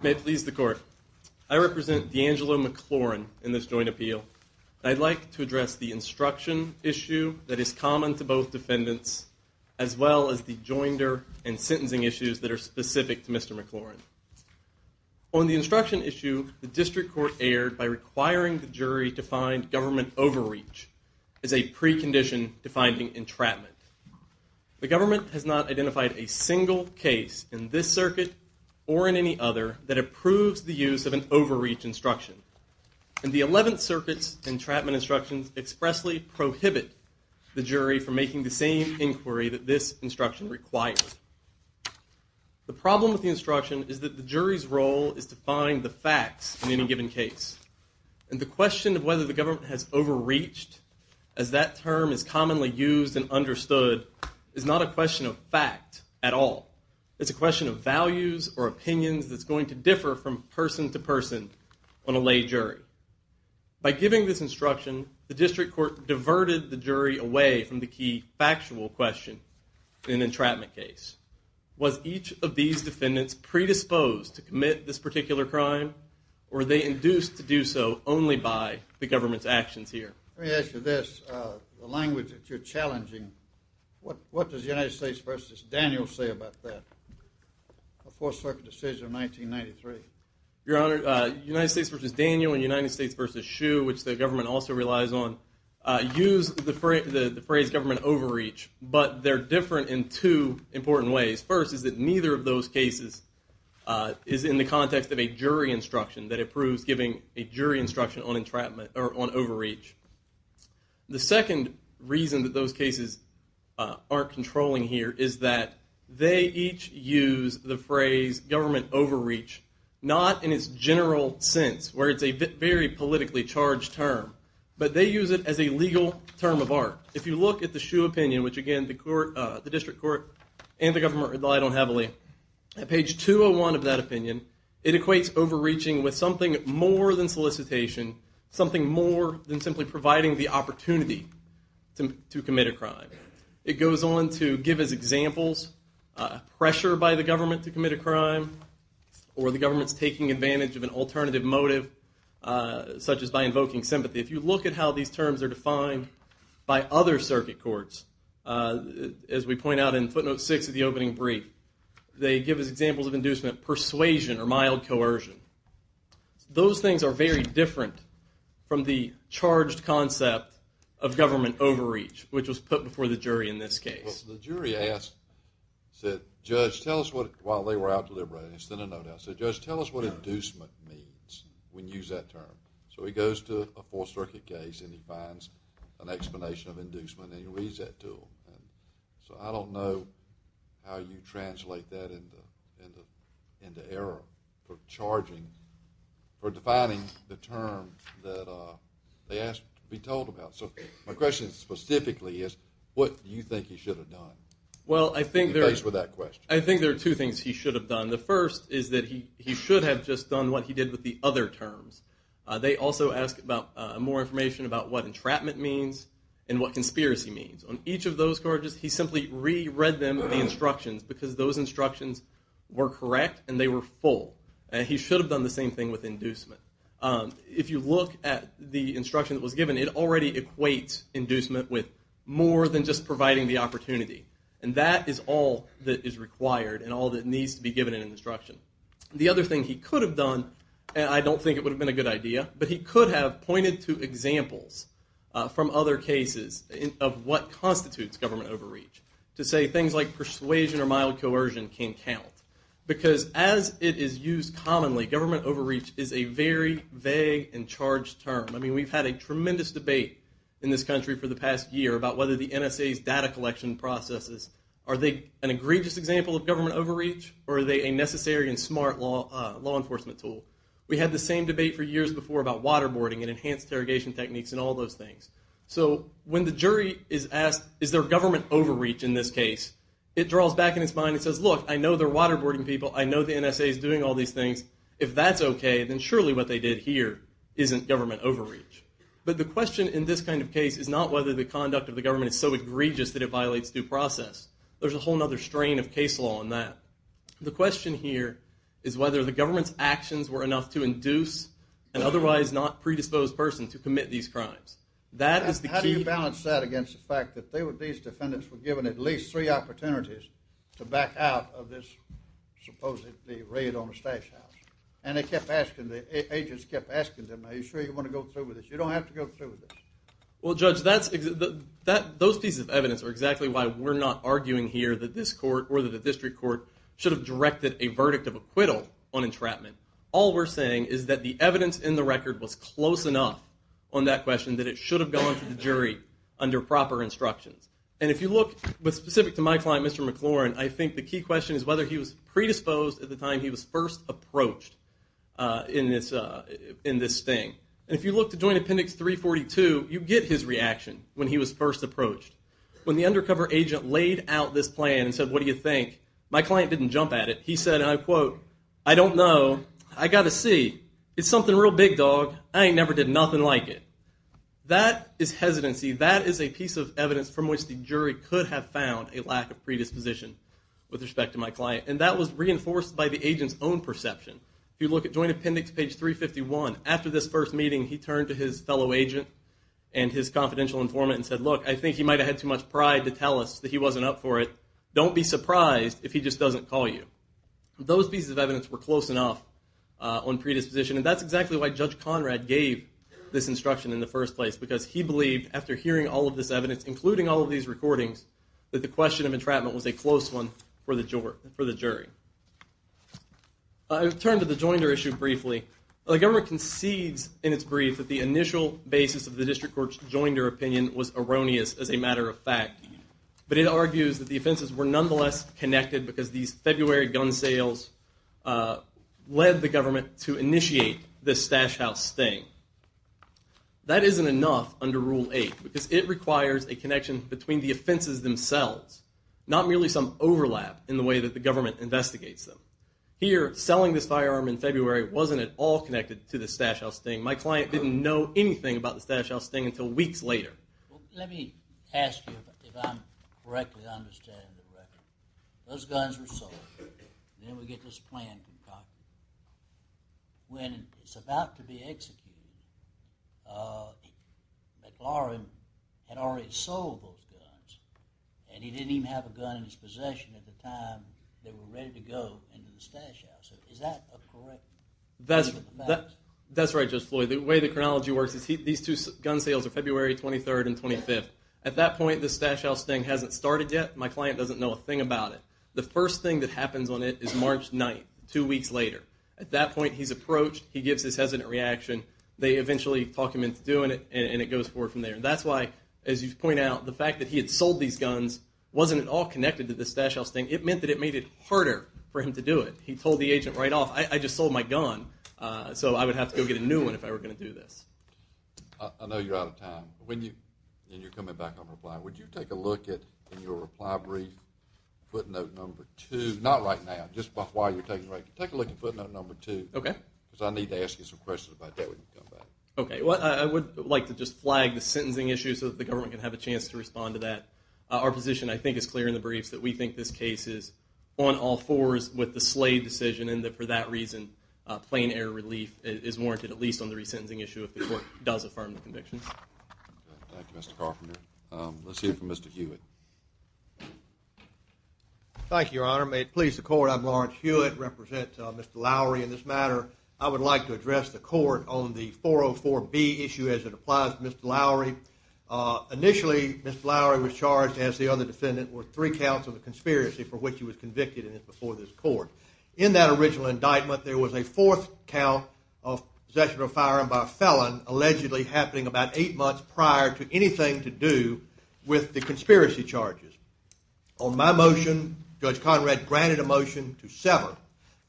May it please the court. I represent Deangelo McLaurin in this joint appeal. I'd like to address the instruction issue that is common to both defendants as well as the joinder and sentencing issues that are specific to Mr. McLaurin. On the instruction issue, the district court erred by requiring the jury to find government overreach as a precondition to finding entrapment. The government has not identified a single case in this circuit or in any other that approves the use of an overreach instruction. And the 11th Circuit's entrapment instructions expressly prohibit the jury from making the same inquiry that this instruction requires. The problem with the instruction is that the jury's role is to find the facts in any given case. And the question of whether the government has overreached as that term is commonly used and understood is not a question of fact at all. It's a question of values or opinions that's going to differ from person to person on a lay jury. By giving this instruction, the district court diverted the jury away from the key factual question in an entrapment case. Was each of these defendants predisposed to commit this particular crime or were they induced to do so only by the government's actions here? Let me ask you this. The language that you're challenging, what does the United States v. Daniel say about that? A Fourth Circuit decision in 1993. Your Honor, United States v. Daniel and United States v. Schuh, which the government also relies on, use the phrase government overreach, but they're different in two important ways. First is that neither of those cases is in the context of a jury instruction, that it proves giving a jury instruction on overreach. The second reason that those cases aren't controlling here is that they each use the phrase government overreach not in its general sense, where it's a very politically charged term, but they use it as a legal term of art. If you look at the Schuh opinion, which again the district court and the government rely on heavily, at page 201 of that opinion, it equates overreaching with something more than solicitation, something more than simply providing the opportunity to commit a crime. It goes on to give us examples, pressure by the government to commit a crime, or the government's taking advantage of an alternative motive, such as by invoking sympathy. If you look at how these terms are defined by other circuit courts, as we point out in footnote six of the opening brief, they give us examples of inducement persuasion or mild coercion. Those things are very different from the charged concept of government overreach, which was put before the jury in this case. Well, the jury asked, said, Judge, tell us what, while they were out deliberating, it's been a no-no, said, Judge, tell us what inducement means, when you use that term. So he goes to a fourth circuit case, and he finds an explanation of inducement, and he reads that to them. So I don't know how you translate that into error, for charging, for defining the term that they asked to be told about. So my question specifically is, what do you think he should have done? Well, I think there are two things he should have done. The first is that he should have just done what he did with the other terms. They also ask more information about what entrapment means and what conspiracy means. On each of those charges, he simply re-read them, the instructions, because those instructions were correct, and they were full. He should have done the same thing with inducement. If you look at the instruction that was given, it already equates inducement with more than just providing the opportunity. And that is all that is required, and all that needs to be given in an instruction. The other thing he could have done, and I don't think it would have been a good idea, but he could have pointed to examples from other cases of what constitutes government overreach, to say things like persuasion or mild coercion can count. Because as it is used commonly, government overreach is a very vague and charged term. I mean, we've had a tremendous debate in this country for the past year about whether the NSA's data collection processes, are they an egregious example of government overreach, or are they a necessary and smart law enforcement tool? We had the same debate for years before about waterboarding and enhanced interrogation techniques and all those things. So when the jury is asked, is there government overreach in this case, it draws back in its mind and says, look, I know they're waterboarding people, I know the NSA is doing all these things. If that's okay, then surely what they did here isn't government overreach. But the question in this kind of case is not whether the conduct of the government is so egregious that it violates due process. There's a whole other strain of case law on that. The question here is whether the government's actions were enough to induce an otherwise not predisposed person to commit these crimes. That is the key. How do you balance that against the fact that these defendants were given at least three opportunities to back out of this supposedly raid on the stash house? And they kept asking, the agents kept asking them, are you sure you want to go through with this? You don't have to go through with this. Well, Judge, those pieces of evidence are exactly why we're not arguing here that this court or that the district court should have directed a verdict of acquittal on entrapment. All we're saying is that the evidence in the record was close enough on that question that it should have gone to the jury under proper instructions. And if you look specific to my client, Mr. McLaurin, I think the key question is whether he was predisposed at the time he was first approached in this thing. If you look to Joint Appendix 342, you get his reaction when he was first approached. When the undercover agent laid out this plan and said, what do you think? My client didn't jump at it. He said, I quote, I don't know. I got to see. It's something real big, dog. I ain't never did nothing like it. That is hesitancy. That is a piece of evidence from which the jury could have found a lack of predisposition with respect to my client. And that was reinforced by the agent's own perception. If you look at Joint Appendix page 351, after this first meeting, he turned to his fellow agent and his confidential informant and said, look, I think he might have had too much pride to tell us that he wasn't up for it. Don't be surprised if he just doesn't call you. Those pieces of evidence were close enough on predisposition. And that's exactly why Judge Conrad gave this instruction in the first place, because he believed, after hearing all of this evidence, including all of these recordings, that the question of entrapment was a close one for the jury. I'll turn to the Joinder issue briefly. The government concedes in its brief that the initial basis of the district court's Joinder opinion was erroneous, as a matter of fact. But it argues that the offenses were nonetheless connected, because these February gun sales led the government to initiate this Stash House thing. That isn't enough under Rule 8, because it requires a connection between the offenses themselves, not merely some overlap in the way that the government investigates them. Here, selling this firearm in February wasn't at all connected to the Stash House thing. My client didn't know anything about the Stash House thing until weeks later. Let me ask you, if I'm correctly understanding the record. Those guns were sold, and then we get this plan concocted. When it's about to be executed, McLaurin had already sold those guns, and he didn't even have a gun in his possession at the time they were ready to go into the Stash House. Is that correct? That's right, Judge Floyd. The way the chronology works is these two gun sales are February 23rd and 25th. At that point, the Stash House thing hasn't started yet. My client doesn't know a thing about it. The first thing that happens on it is March 9th, two weeks later. At that point, he's approached. He gives his hesitant reaction. They eventually talk him into doing it, and it goes forward from there. That's why, as you point out, the fact that he had sold these guns wasn't at all connected to the Stash House thing. It meant that it made it harder for him to do it. He told the agent right off, I just sold my gun, so I would have to go get a new one if I were going to do this. I know you're out of time. When you're coming back on reply, would you take a look at your reply brief, footnote number two? Not right now, just while you're taking a break. Take a look at footnote number two. I need to ask you some questions about that when you come back. Okay. I would like to just flag the sentencing issue so that the government can have a chance to respond to that. Our position, I think, is clear in the briefs that we think this case is on all fours with the Slade decision, and that for that reason, plain error relief is warranted, at least on the resentencing issue, if the court does affirm the conviction. Thank you, Mr. Carpenter. Let's hear from Mr. Hewitt. Thank you, Your Honor. May it please the court, I'm Lawrence Hewitt. I represent Mr. Lowry in this matter. I would like to address the court on the 404B issue as it applies to Mr. Lowry. Initially, Mr. Lowry was charged, as the other defendant, with three counts of a conspiracy for which he was convicted, and it's before this court. In that original indictment, there was a fourth count of possession of firearm by a felon, allegedly happening about eight months prior to anything to do with the conspiracy charges. On my motion, Judge Conrad granted a motion to sever,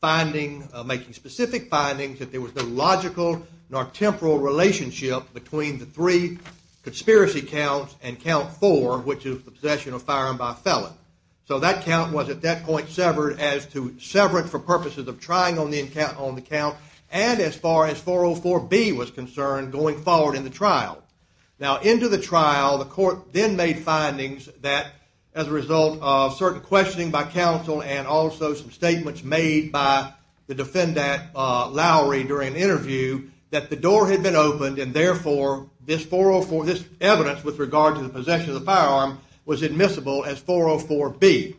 making specific findings that there was no logical nor temporal relationship between the three conspiracy counts and count four, which is the possession of firearm by a felon. So that count was at that point severed as to sever Now, into the trial, the court then made findings that, as a result of certain questioning by counsel and also some statements made by the defendant, Lowry, during an interview, that the door had been opened and, therefore, this evidence with regard to the possession of the firearm was admissible as 404B.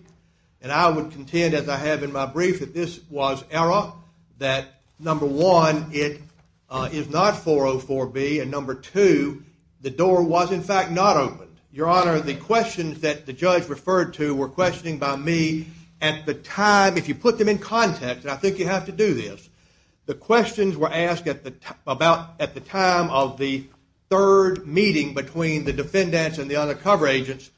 And I would contend, as I have in my brief, that this was error, that, number one, it is not 404B, and, number two, the door was, in fact, not opened. Your Honor, the questions that the judge referred to were questioning by me at the time, if you put them in context, and I think you have to do this, the questions were asked at the time of the third meeting between the defendants and the undercover agents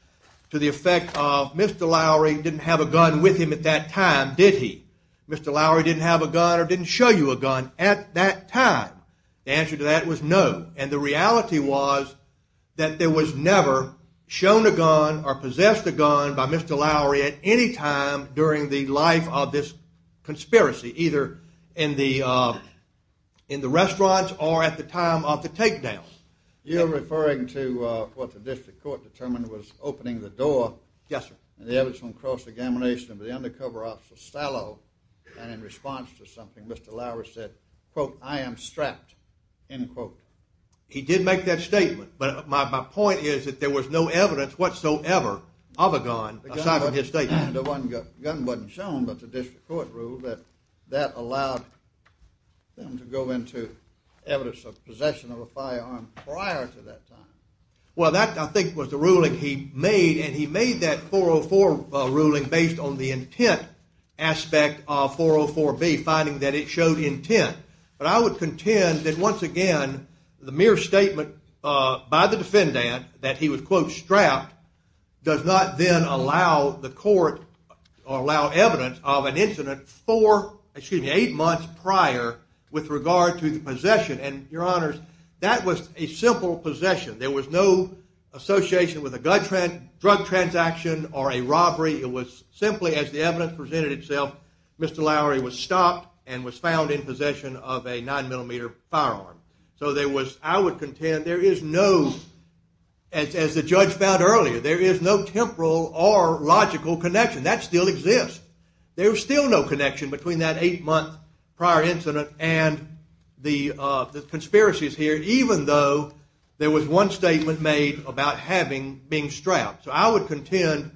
to the effect of, Mr. Lowry didn't have a gun with him at that time, did he? Mr. Lowry didn't have a gun or didn't show you a gun at that time. The answer to that was no, and the reality was that there was never shown a gun or possessed a gun by Mr. Lowry at any time during the life of this conspiracy, either in the restaurants or at any time of the takedowns. You're referring to what the district court determined was opening the door. Yes, sir. And the evidence on cross-examination of the undercover officer Sallow, and in response to something, Mr. Lowry said, quote, I am strapped, end quote. He did make that statement, but my point is that there was no evidence whatsoever of a gun aside from his statement. The gun wasn't shown, but the district court ruled that that allowed them to go into evidence of possession of a firearm prior to that time. Well, that, I think, was the ruling he made, and he made that 404 ruling based on the intent aspect of 404B, finding that it showed intent. But I would contend that, once again, the mere statement by the defendant that he was, quote, strapped, does not then allow the court or allow evidence of an incident four, excuse me, eight months prior with regard to the possession. And, your honors, that was a simple possession. There was no association with a drug transaction or a robbery. It was simply, as the evidence presented itself, Mr. Lowry was stopped and was found in possession of a 9mm firearm. So there was, I would contend, there is no, as the judge found earlier, there is no temporal or logical connection. That still exists. There's still no connection between that eight-month prior incident and the conspiracies here, even though there was one statement made about having, being strapped. So I would contend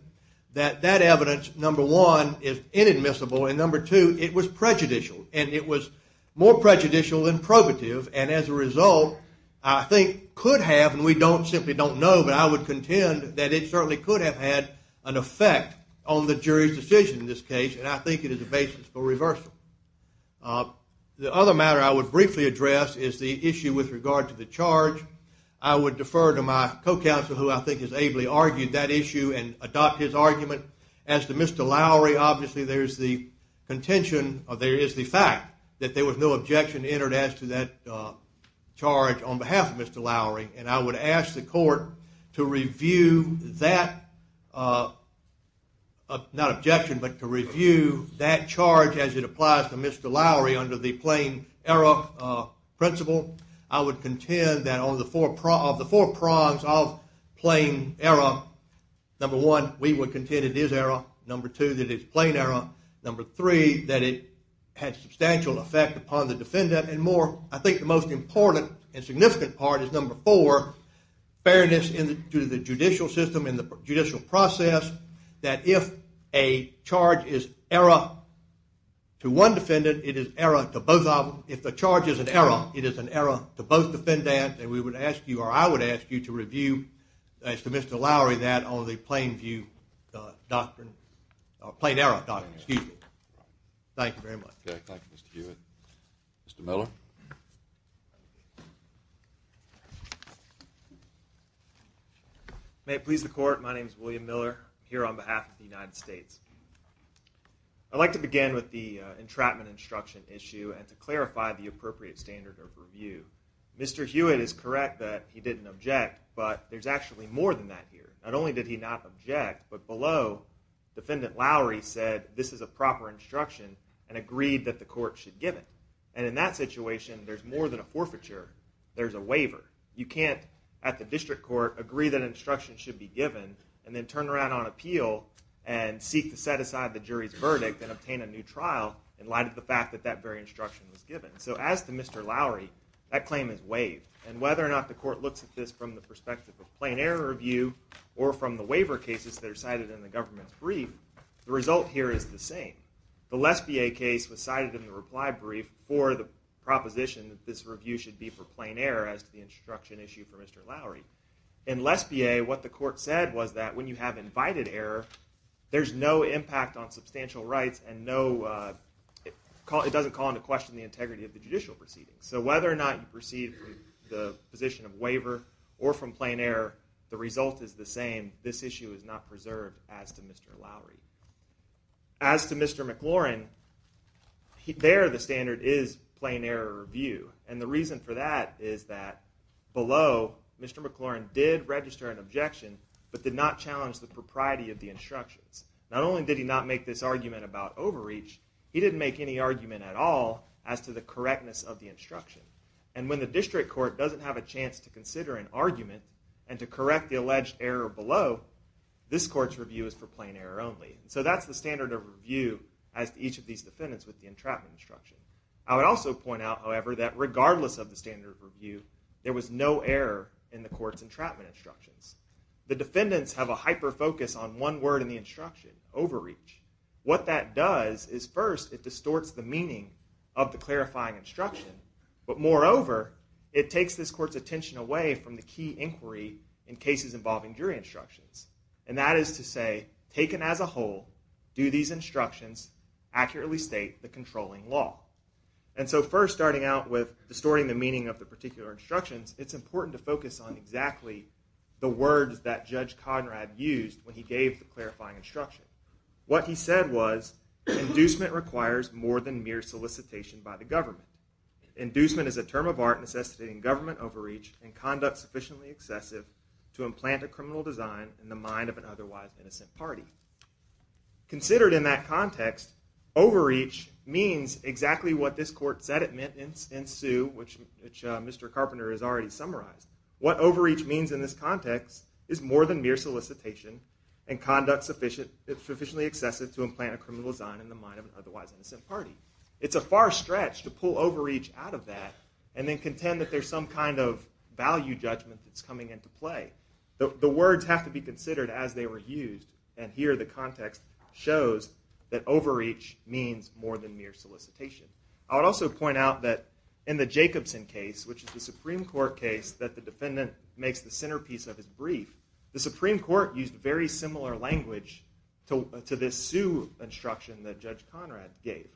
that that evidence, number one, is inadmissible, and number two, it was prejudicial, and it was more prejudicial than probative, and as a result, I think could have, and we simply don't know, but I would contend that it certainly could have had an effect on the jury's decision in this case, and I think it is a basis for reversal. The other matter I would briefly address is the issue with regard to the charge. I would defer to my co-counsel, who I think has the fact that there was no objection entered as to that charge on behalf of Mr. Lowry, and I would ask the court to review that, not objection, but to review that charge as it applies to Mr. Lowry under the plain error principle. I would contend that of the four prongs of plain error, number one, we would contend it is error, number two, that it's plain error, number three, that it had substantial effect upon the defendant, and more, I think the most important and significant part is number four, fairness to the judicial system and the judicial process, that if a charge is error to one defendant, it is error to both of them. If the charge is an error, it is an error to both defendant and defendant, it is an error to both defendant and defendant. Thank you very much. Thank you, Mr. Hewitt. Mr. Miller? May it please the court, my name is William Miller. I'm here on behalf of the United States. I'd like to begin with the entrapment instruction issue and to clarify the appropriate standard of review. Mr. Hewitt is correct that he didn't object, but there's actually more than that here. Not only did he not object, but below, Defendant Lowry said this is a proper instruction and agreed that the court should give it. And in that situation, there's more than a forfeiture, there's a waiver. You can't, at the district court, agree that instruction should be given and then turn around on appeal and seek to set aside the jury's verdict and obtain a new trial in light of the fact that that very instruction was given. So as to Mr. Lowry, that claim is waived. And whether or not the court looks at this from the perspective of plain error review or from the waiver cases that are cited in the government's brief, the result here is the same. The Lesbier case was cited in the reply brief for the proposition that this review should be for plain error as to the instruction issue for Mr. Lowry. In Lesbier, what the court said was that when you have invited error, there's no impact on substantial rights and it doesn't call into question the integrity of the judicial proceedings. So whether or not you proceed from the position of waiver or from plain error, the result is the same. This issue is not preserved as to Mr. Lowry. As to Mr. McLaurin, there the standard is plain error review. And the reason for that is that below, Mr. McLaurin did register an objection but did not challenge the propriety of the instructions. Not only did he not make this argument about overreach, he didn't make any argument at all as to the correctness of the instruction. And when the district court doesn't have a chance to consider an argument and to correct the alleged error below, this court's review is for plain error only. So that's the standard of review as to each of these defendants with the entrapment instruction. I would also point out, however, that regardless of the standard of review, there was no error in the court's entrapment instructions. The defendants have a hyper focus on one word in the instruction, overreach. What that does is first it distorts the meaning of the clarifying instruction, but moreover, it takes this court's attention away from the key inquiry in cases involving jury instructions. And that is to say, taken as a whole, do these instructions accurately state the controlling law? And so first, starting out with distorting the meaning of the particular instructions, it's important to focus on exactly the words that Judge Conrad used when he gave the clarifying instruction. What he said was inducement requires more than mere solicitation by the government. Inducement is a term of art necessitating government overreach and conduct sufficiently excessive to implant a criminal design in the mind of an otherwise innocent party. Considered in that context, overreach means exactly what this court said it meant in Sue, which Mr. Carpenter has already summarized. What overreach means in this context is more than mere solicitation and conduct sufficiently excessive to implant a criminal design in the mind of an otherwise innocent party. It's a far stretch to pull overreach out of that and then contend that there's some kind of value judgment that's coming into play. The words have to be considered as they were used, and here the context shows that overreach means more than mere solicitation. I would also point out that in the Jacobson case, which is the Supreme Court case that the defendant makes the centerpiece of his brief, the Supreme Court used very similar language to this Sue instruction that Judge Conrad gave.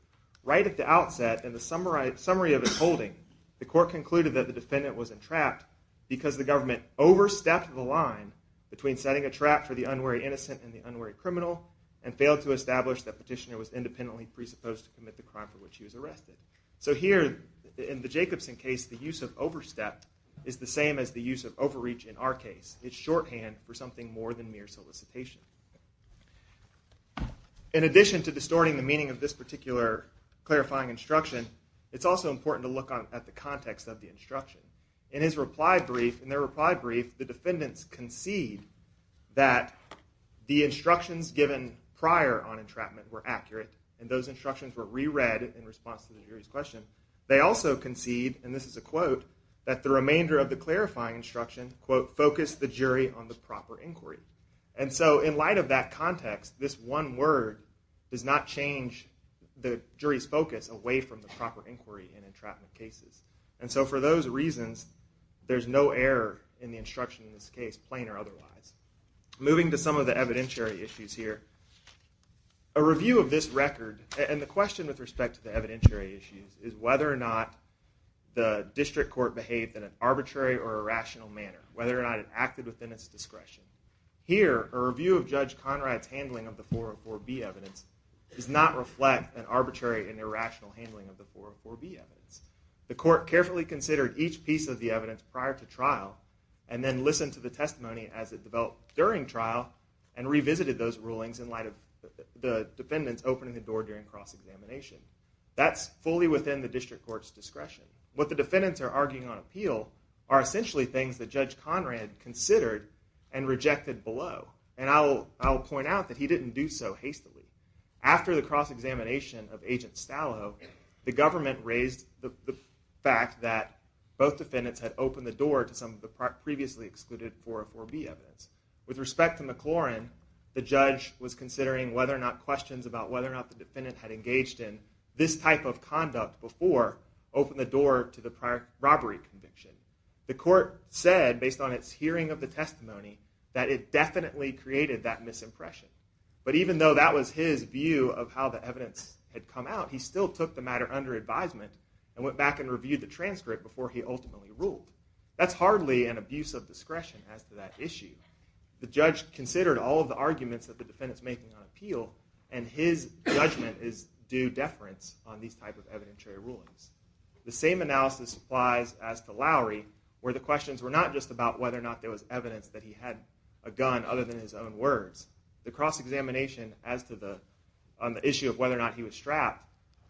Right at the outset, in the summary of his holding, the court concluded that the defendant was entrapped because the government overstepped the line between setting a trap for the unwary innocent and the unwary criminal and failed to establish that petitioner was independently presupposed to commit the crime for which he was arrested. So here, in the Jacobson case, the use of overstep is the same as the use of overreach in our case. It's shorthand for something more than mere solicitation. In addition to distorting the meaning of this particular clarifying instruction, it's also important to look at the context of the instruction. In his reply brief, in their reply brief, the defendants concede that the instructions given prior on entrapment were accurate, and those instructions were re-read in response to the jury's question. They also concede, and this is a quote, that the remainder of the clarifying instruction, quote, focused the jury on the proper inquiry. And so in light of that context, this one word does not change the jury's focus away from the proper inquiry in entrapment cases. And so for those reasons, there's no error in the instruction in this case, plain or otherwise. Moving to some of the evidentiary issues here, a review of this record, and the question with respect to the evidentiary issues is whether or not the district court behaved in an arbitrary or irrational manner, whether or not it acted within its discretion. Here, a review of Judge Conrad's handling of the 404B evidence does not reflect an arbitrary and irrational handling of the 404B evidence. The court carefully considered each piece of the evidence prior to trial, and then listened to the testimony as it developed during trial, and revisited those rulings in light of the defendants opening the door during cross-examination. That's fully within the district court's discretion. What the defendants are arguing on appeal are essentially things that Judge Conrad considered and rejected below. And I'll point out that he didn't do so hastily. After the cross-examination of Agent Stallow, the government raised the fact that both defendants had opened the door to some of the previously excluded 404B evidence. With respect to McLaurin, the judge was considering whether or not questions about whether or not the defendant had engaged in this type of conduct before opened the door to the prior robbery conviction. The court said, based on its hearing of the testimony, that it definitely created that misimpression. But even though that was his view of how the evidence had come out, he still took the matter under advisement and went back and reviewed the transcript before he ultimately ruled. That's hardly an abuse of discretion as to that issue. The judge considered all of the arguments that the defendant's making on appeal, and his judgment is due deference on these type of evidentiary rulings. The same analysis applies as to Lowry, where the questions were not just about whether or not there was evidence that he had a gun other than his own words. The cross-examination on the issue of whether or not he was strapped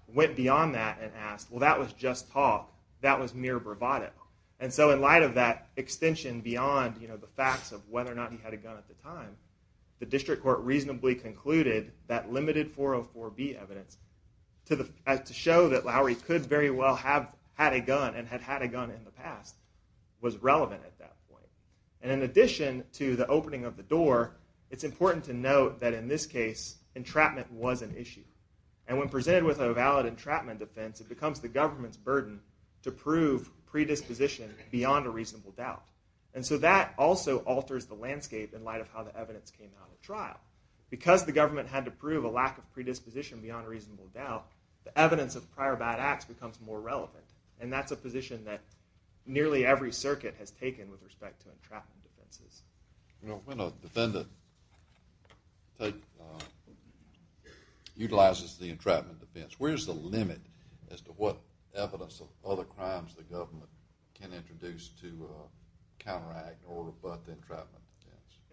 went beyond that and asked, well that was just talk, that was mere bravado. And so in light of that extension beyond the facts of whether or not he had a gun at the time, the district court reasonably concluded that limited 404B evidence, to show that Lowry could very well have had a gun and had had a gun in the past, was relevant at that point. And in addition to the opening of the door, it's important to note that in this case, entrapment was an issue. And when presented with a valid entrapment offense, it becomes the government's burden to prove predisposition beyond a reasonable doubt. And so that also alters the landscape in light of how the evidence came out at trial. Because the government had to prove a lack of predisposition beyond a reasonable doubt, the evidence of prior bad acts becomes more relevant. And that's a position that nearly every circuit has taken with respect to entrapment offenses. You know, when a defendant utilizes the entrapment offense, where's the limit as to what evidence of other crimes the government can introduce to counteract or rebut the entrapment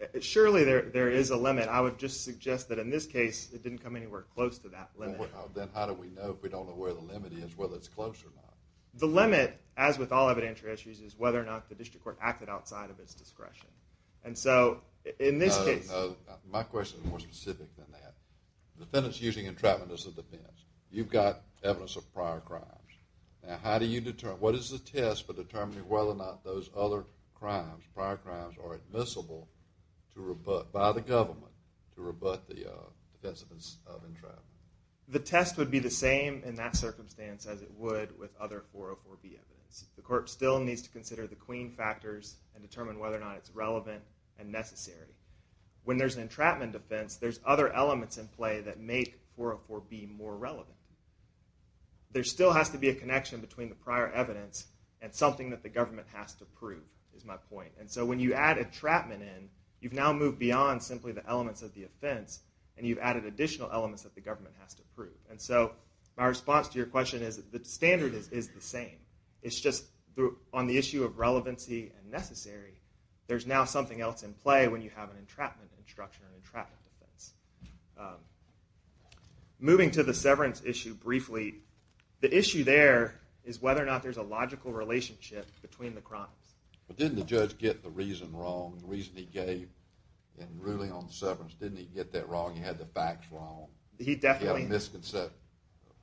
offense? Surely there is a limit. I would just suggest that in this case, it didn't come anywhere close to that limit. Then how do we know if we don't know where the limit is, whether it's close or not? The limit, as with all evidentiary issues, is whether or not the district court acted outside of its discretion. And so in this case... No, no, no. My question is more specific than that. The defendant's using entrapment as a defense. You've got evidence of prior crimes. Now how do you determine, what is the test for determining whether or not those other crimes, prior crimes, are admissible by the government to rebut the defense of entrapment? The test would be the same in that circumstance as it would with other 404B evidence. The court still needs to consider the queen factors and determine whether or not it's relevant and necessary. When there's an entrapment offense, there's other elements in play that make 404B more relevant. There still has to be a connection between the prior evidence and something that the government has to prove, is my point. And so when you add entrapment in, you've now moved beyond simply the elements of the offense, and you've added additional elements that the government has to prove. And so my response to your question is that the standard is the same. It's just on the issue of relevancy and necessary, there's now something else in play when you have an entrapment instruction or an entrapment defense. Moving to the severance issue briefly, the issue there is whether or not there's a logical relationship between the crimes. But didn't the judge get the reason wrong, the reason he gave in ruling on severance? Didn't he get that wrong? He had the facts wrong? He definitely… He had a misconception,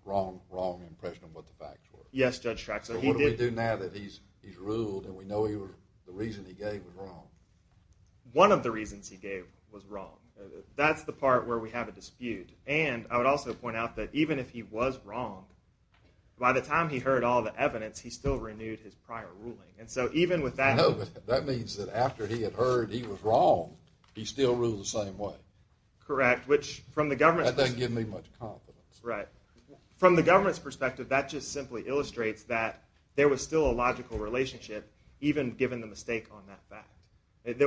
wrong impression of what the facts were? Yes, Judge Traxler. What do we do now that he's ruled and we know the reason he gave was wrong? One of the reasons he gave was wrong. That's the part where we have a dispute. And I would also point out that even if he was wrong, by the time he heard all the evidence, he still renewed his prior ruling. And so even with that… No, but that means that after he had heard he was wrong, he still ruled the same way. Correct, which from the government's perspective… That doesn't give me much confidence. Right. From the government's perspective, that just simply illustrates that there was still a logical relationship, even given the mistake on that fact. It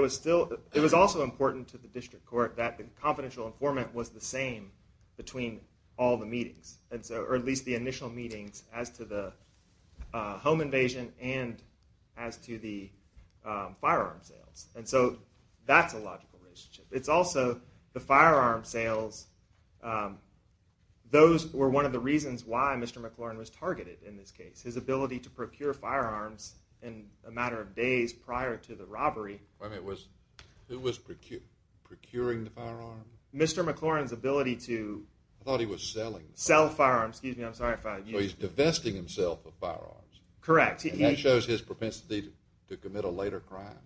was also important to the district court that the confidential informant was the same between all the meetings, or at least the initial meetings, as to the home invasion and as to the firearm sales. And so that's a logical relationship. It's also the firearm sales, those were one of the reasons why Mr. McLaurin was targeted in this case. His ability to procure firearms in a matter of days prior to the robbery. It was procuring the firearm? Mr. McLaurin's ability to… I thought he was selling. Sell firearms. Excuse me, I'm sorry if I… So he's divesting himself of firearms. Correct. And that shows his propensity to commit a later crime?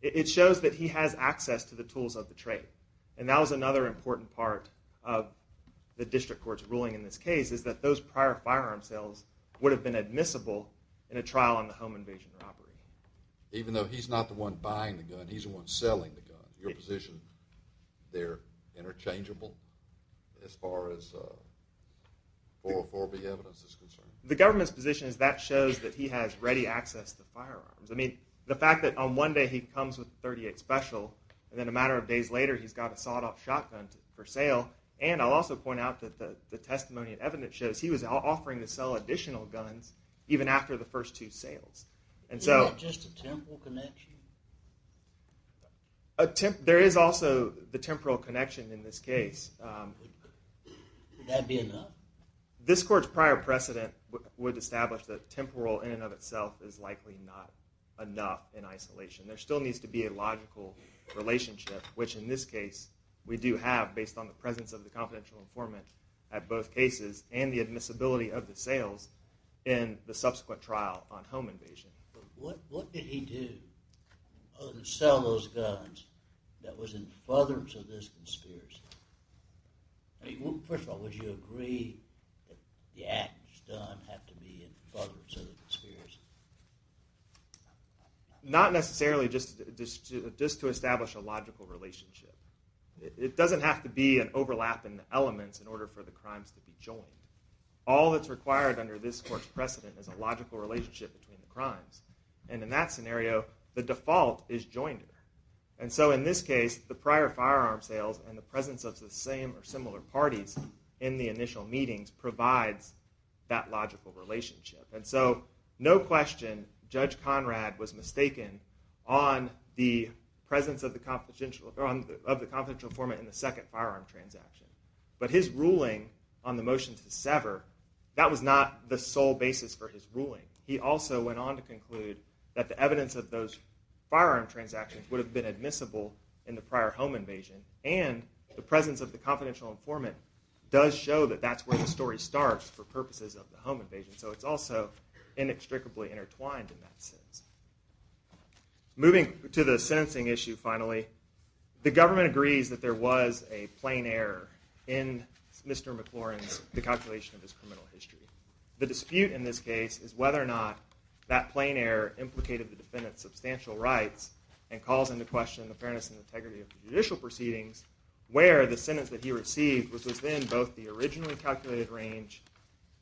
It shows that he has access to the tools of the trade. And that was another important part of the district court's ruling in this case, is that those prior firearm sales would have been admissible in a trial on the home invasion robbery. Even though he's not the one buying the gun, he's the one selling the gun. Your position, they're interchangeable as far as 404B evidence is concerned? The government's position is that shows that he has ready access to firearms. I mean, the fact that on one day he comes with a .38 special, and then a matter of days later he's got a sawed-off shotgun for sale. And I'll also point out that the testimony and evidence shows he was offering to sell additional guns even after the first two sales. And so… Isn't that just a temporal connection? There is also the temporal connection in this case. Would that be enough? This court's prior precedent would establish that temporal in and of itself is likely not enough in isolation. There still needs to be a logical relationship, which in this case we do have based on the presence of the confidential informant at both cases and the admissibility of the sales in the subsequent trial on home invasion. But what did he do other than sell those guns that was in furtherance of this conspiracy? First of all, would you agree that the act that was done had to be in furtherance of the conspiracy? Not necessarily, just to establish a logical relationship. It doesn't have to be an overlap in elements in order for the crimes to be joined. All that's required under this court's precedent is a logical relationship between the crimes. And in that scenario, the default is joined. And so in this case, the prior firearm sales and the presence of the same or similar parties in the initial meetings provides that logical relationship. And so, no question, Judge Conrad was mistaken on the presence of the confidential informant in the second firearm transaction. But his ruling on the motion to sever, that was not the sole basis for his ruling. He also went on to conclude that the evidence of those firearm transactions would have been admissible in the prior home invasion. And the presence of the confidential informant does show that that's where the story starts for purposes of the home invasion. So it's also inextricably intertwined in that sense. Moving to the sentencing issue finally, the government agrees that there was a plain error in Mr. McLaurin's calculation of his criminal history. The dispute in this case is whether or not that plain error implicated the defendant's substantial rights and calls into question the fairness and integrity of the judicial proceedings where the sentence that he received was within both the originally calculated range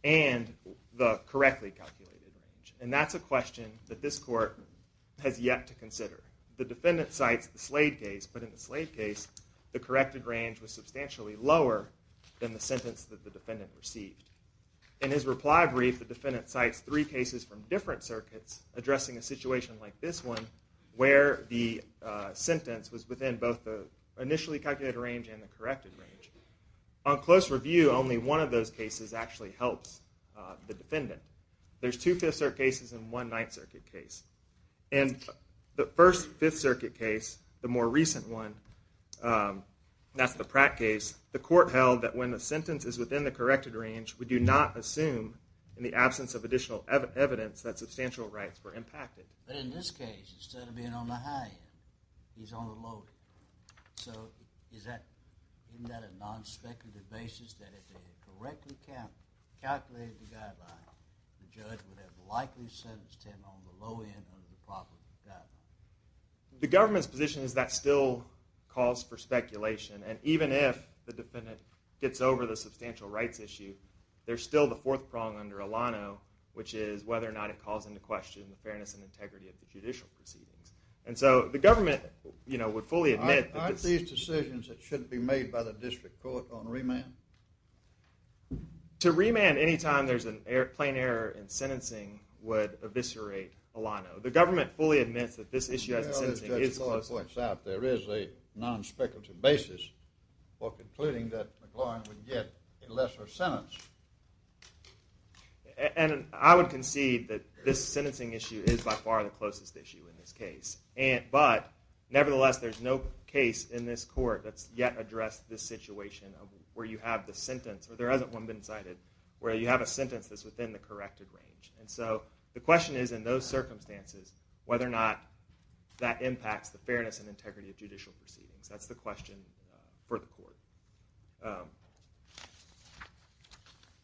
and the correctly calculated range. And that's a question that this court has yet to consider. The defendant cites the Slade case, but in the Slade case, the corrected range was substantially lower than the sentence that the defendant received. In his reply brief, the defendant cites three cases from different circuits addressing a situation like this one where the sentence was within both the initially calculated range and the corrected range. On close review, only one of those cases actually helps the defendant. There's two Fifth Circuit cases and one Ninth Circuit case. And the first Fifth Circuit case, the more recent one, that's the Pratt case, the court held that when the sentence is within the corrected range, we do not assume in the absence of additional evidence that substantial rights were impacted. But in this case, instead of being on the high end, he's on the low end. So isn't that a non-speculative basis that if they had correctly calculated the guideline, the judge would have likely sentenced him on the low end of the property guideline? The government's position is that still calls for speculation. And even if the defendant gets over the substantial rights issue, there's still the fourth prong under Alano, which is whether or not it calls into question the fairness and integrity of the judicial proceedings. And so the government would fully admit that this... Aren't these decisions that shouldn't be made by the district court on remand? To remand any time there's a plain error in sentencing would eviscerate Alano. The government fully admits that this issue... There is a non-speculative basis for concluding that McLaurin would get a lesser sentence. And I would concede that this sentencing issue is by far the closest issue in this case. But nevertheless, there's no case in this court that's yet addressed this situation where you have the sentence, or there hasn't one been cited, where you have a sentence that's within the corrected range. And so the question is, in those circumstances, whether or not that impacts the fairness and integrity of judicial proceedings. That's the question for the court.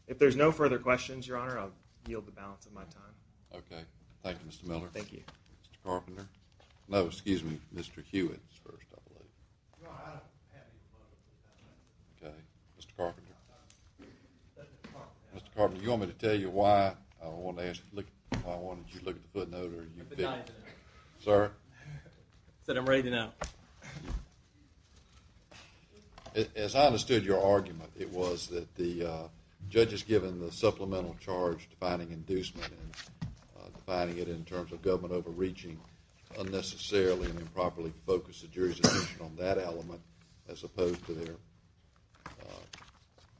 If there's no further questions, Your Honor, I'll yield the balance of my time. Okay. Thank you, Mr. Miller. Thank you. Mr. Carpenter. No, excuse me. Mr. Hewitt is first, I believe. Okay. Mr. Carpenter. Mr. Carpenter, do you want me to tell you why I wanted you to look at the footnote? Sir? I said I'm ready to know. As I understood your argument, it was that the judge has given the supplemental charge defining inducement and defining it in terms of government overreaching unnecessarily and improperly focused the jury's attention on that element as opposed to the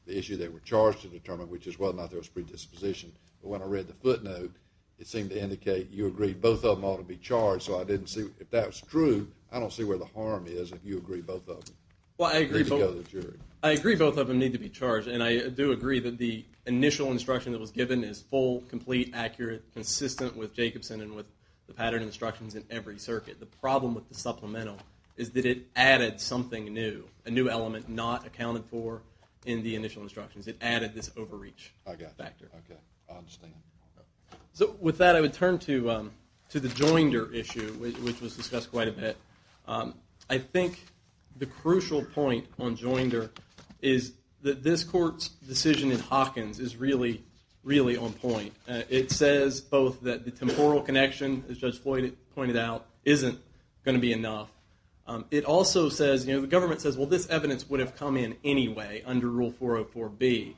issue they were charged to determine, which is whether or not there was predisposition. But when I read the footnote, it seemed to indicate you agreed both of them ought to be charged. So if that was true, I don't see where the harm is if you agree both of them. Well, I agree both of them need to be charged, and I do agree that the initial instruction that was given is full, complete, accurate, consistent with Jacobson and with the pattern instructions in every circuit. The problem with the supplemental is that it added something new, a new element not accounted for in the initial instructions. It added this overreach factor. Okay. I understand. So with that, I would turn to the Joinder issue, which was discussed quite a bit. I think the crucial point on Joinder is that this court's decision in Hawkins is really, really on point. It says both that the temporal connection, as Judge Floyd pointed out, isn't going to be enough. It also says, you know, the government says, well, this evidence would have come in anyway under Rule 404B,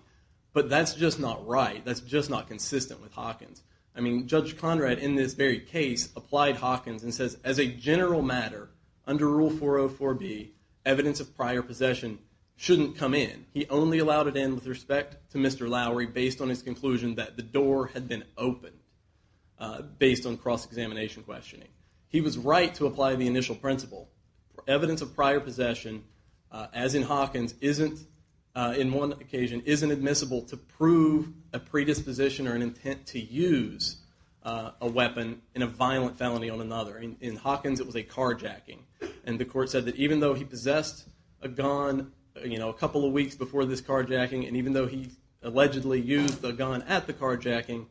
but that's just not right. That's just not consistent with Hawkins. I mean, Judge Conrad, in this very case, applied Hawkins and says, as a general matter, under Rule 404B, evidence of prior possession shouldn't come in. He only allowed it in with respect to Mr. Lowery based on his conclusion that the door had been opened, based on cross-examination questioning. He was right to apply the initial principle. Evidence of prior possession, as in Hawkins, isn't, in one occasion, isn't admissible to prove a predisposition or an intent to use a weapon in a violent felony on another. In Hawkins, it was a carjacking. And the court said that even though he possessed a gun, you know, a couple of weeks before this carjacking, and even though he allegedly used the gun at the carjacking,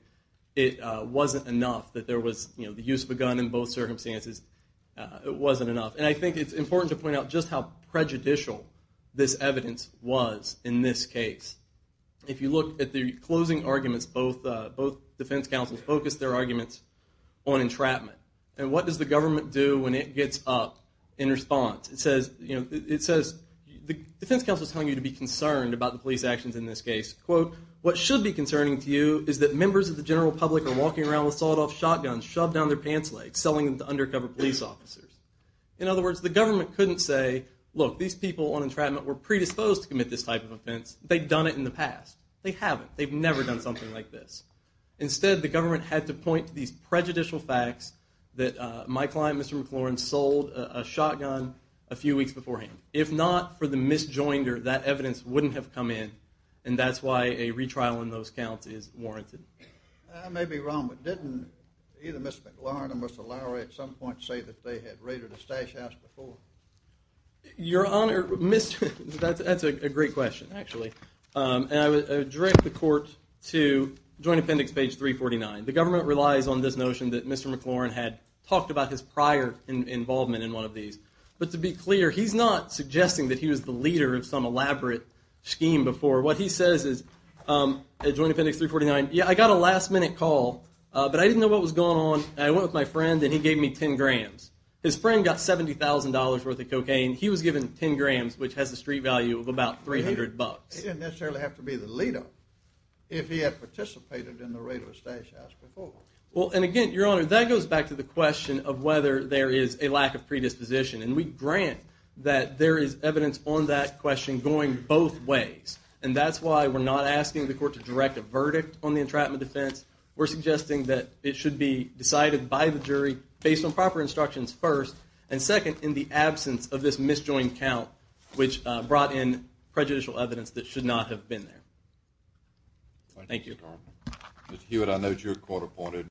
it wasn't enough that there was, you know, the use of a gun in both circumstances. It wasn't enough. And I think it's important to point out just how prejudicial this evidence was in this case. If you look at the closing arguments, both defense counsels focused their arguments on entrapment. And what does the government do when it gets up in response? It says, you know, it says the defense counsel is telling you to be concerned about the police actions in this case. Quote, what should be concerning to you is that members of the general public are walking around with sawed-off shotguns, shoved down their pants legs, selling them to undercover police officers. In other words, the government couldn't say, look, these people on entrapment were predisposed to commit this type of offense. They'd done it in the past. They haven't. They've never done something like this. Instead, the government had to point to these prejudicial facts that my client, Mr. McLaurin, sold a shotgun a few weeks beforehand. If not for the misjoinder, that evidence wouldn't have come in, and that's why a retrial in those counts is warranted. I may be wrong, but didn't either Mr. McLaurin or Mr. Lowry at some point say that they had raided a stash house before? Your Honor, that's a great question, actually. I would direct the court to Joint Appendix page 349. The government relies on this notion that Mr. McLaurin had talked about his prior involvement in one of these. But to be clear, he's not suggesting that he was the leader of some elaborate scheme before. What he says is at Joint Appendix 349, yeah, I got a last-minute call, but I didn't know what was going on. I went with my friend, and he gave me 10 grams. His friend got $70,000 worth of cocaine. He was given 10 grams, which has a street value of about $300. He didn't necessarily have to be the leader if he had participated in the raid of a stash house before. Again, Your Honor, that goes back to the question of whether there is a lack of predisposition. We grant that there is evidence on that question going both ways. That's why we're not asking the court to direct a verdict on the entrapment defense. We're suggesting that it should be decided by the jury based on proper instructions first. And second, in the absence of this misjoined count, which brought in prejudicial evidence that should not have been there. Thank you, Your Honor. Mr. Hewitt, I note you're court-appointed.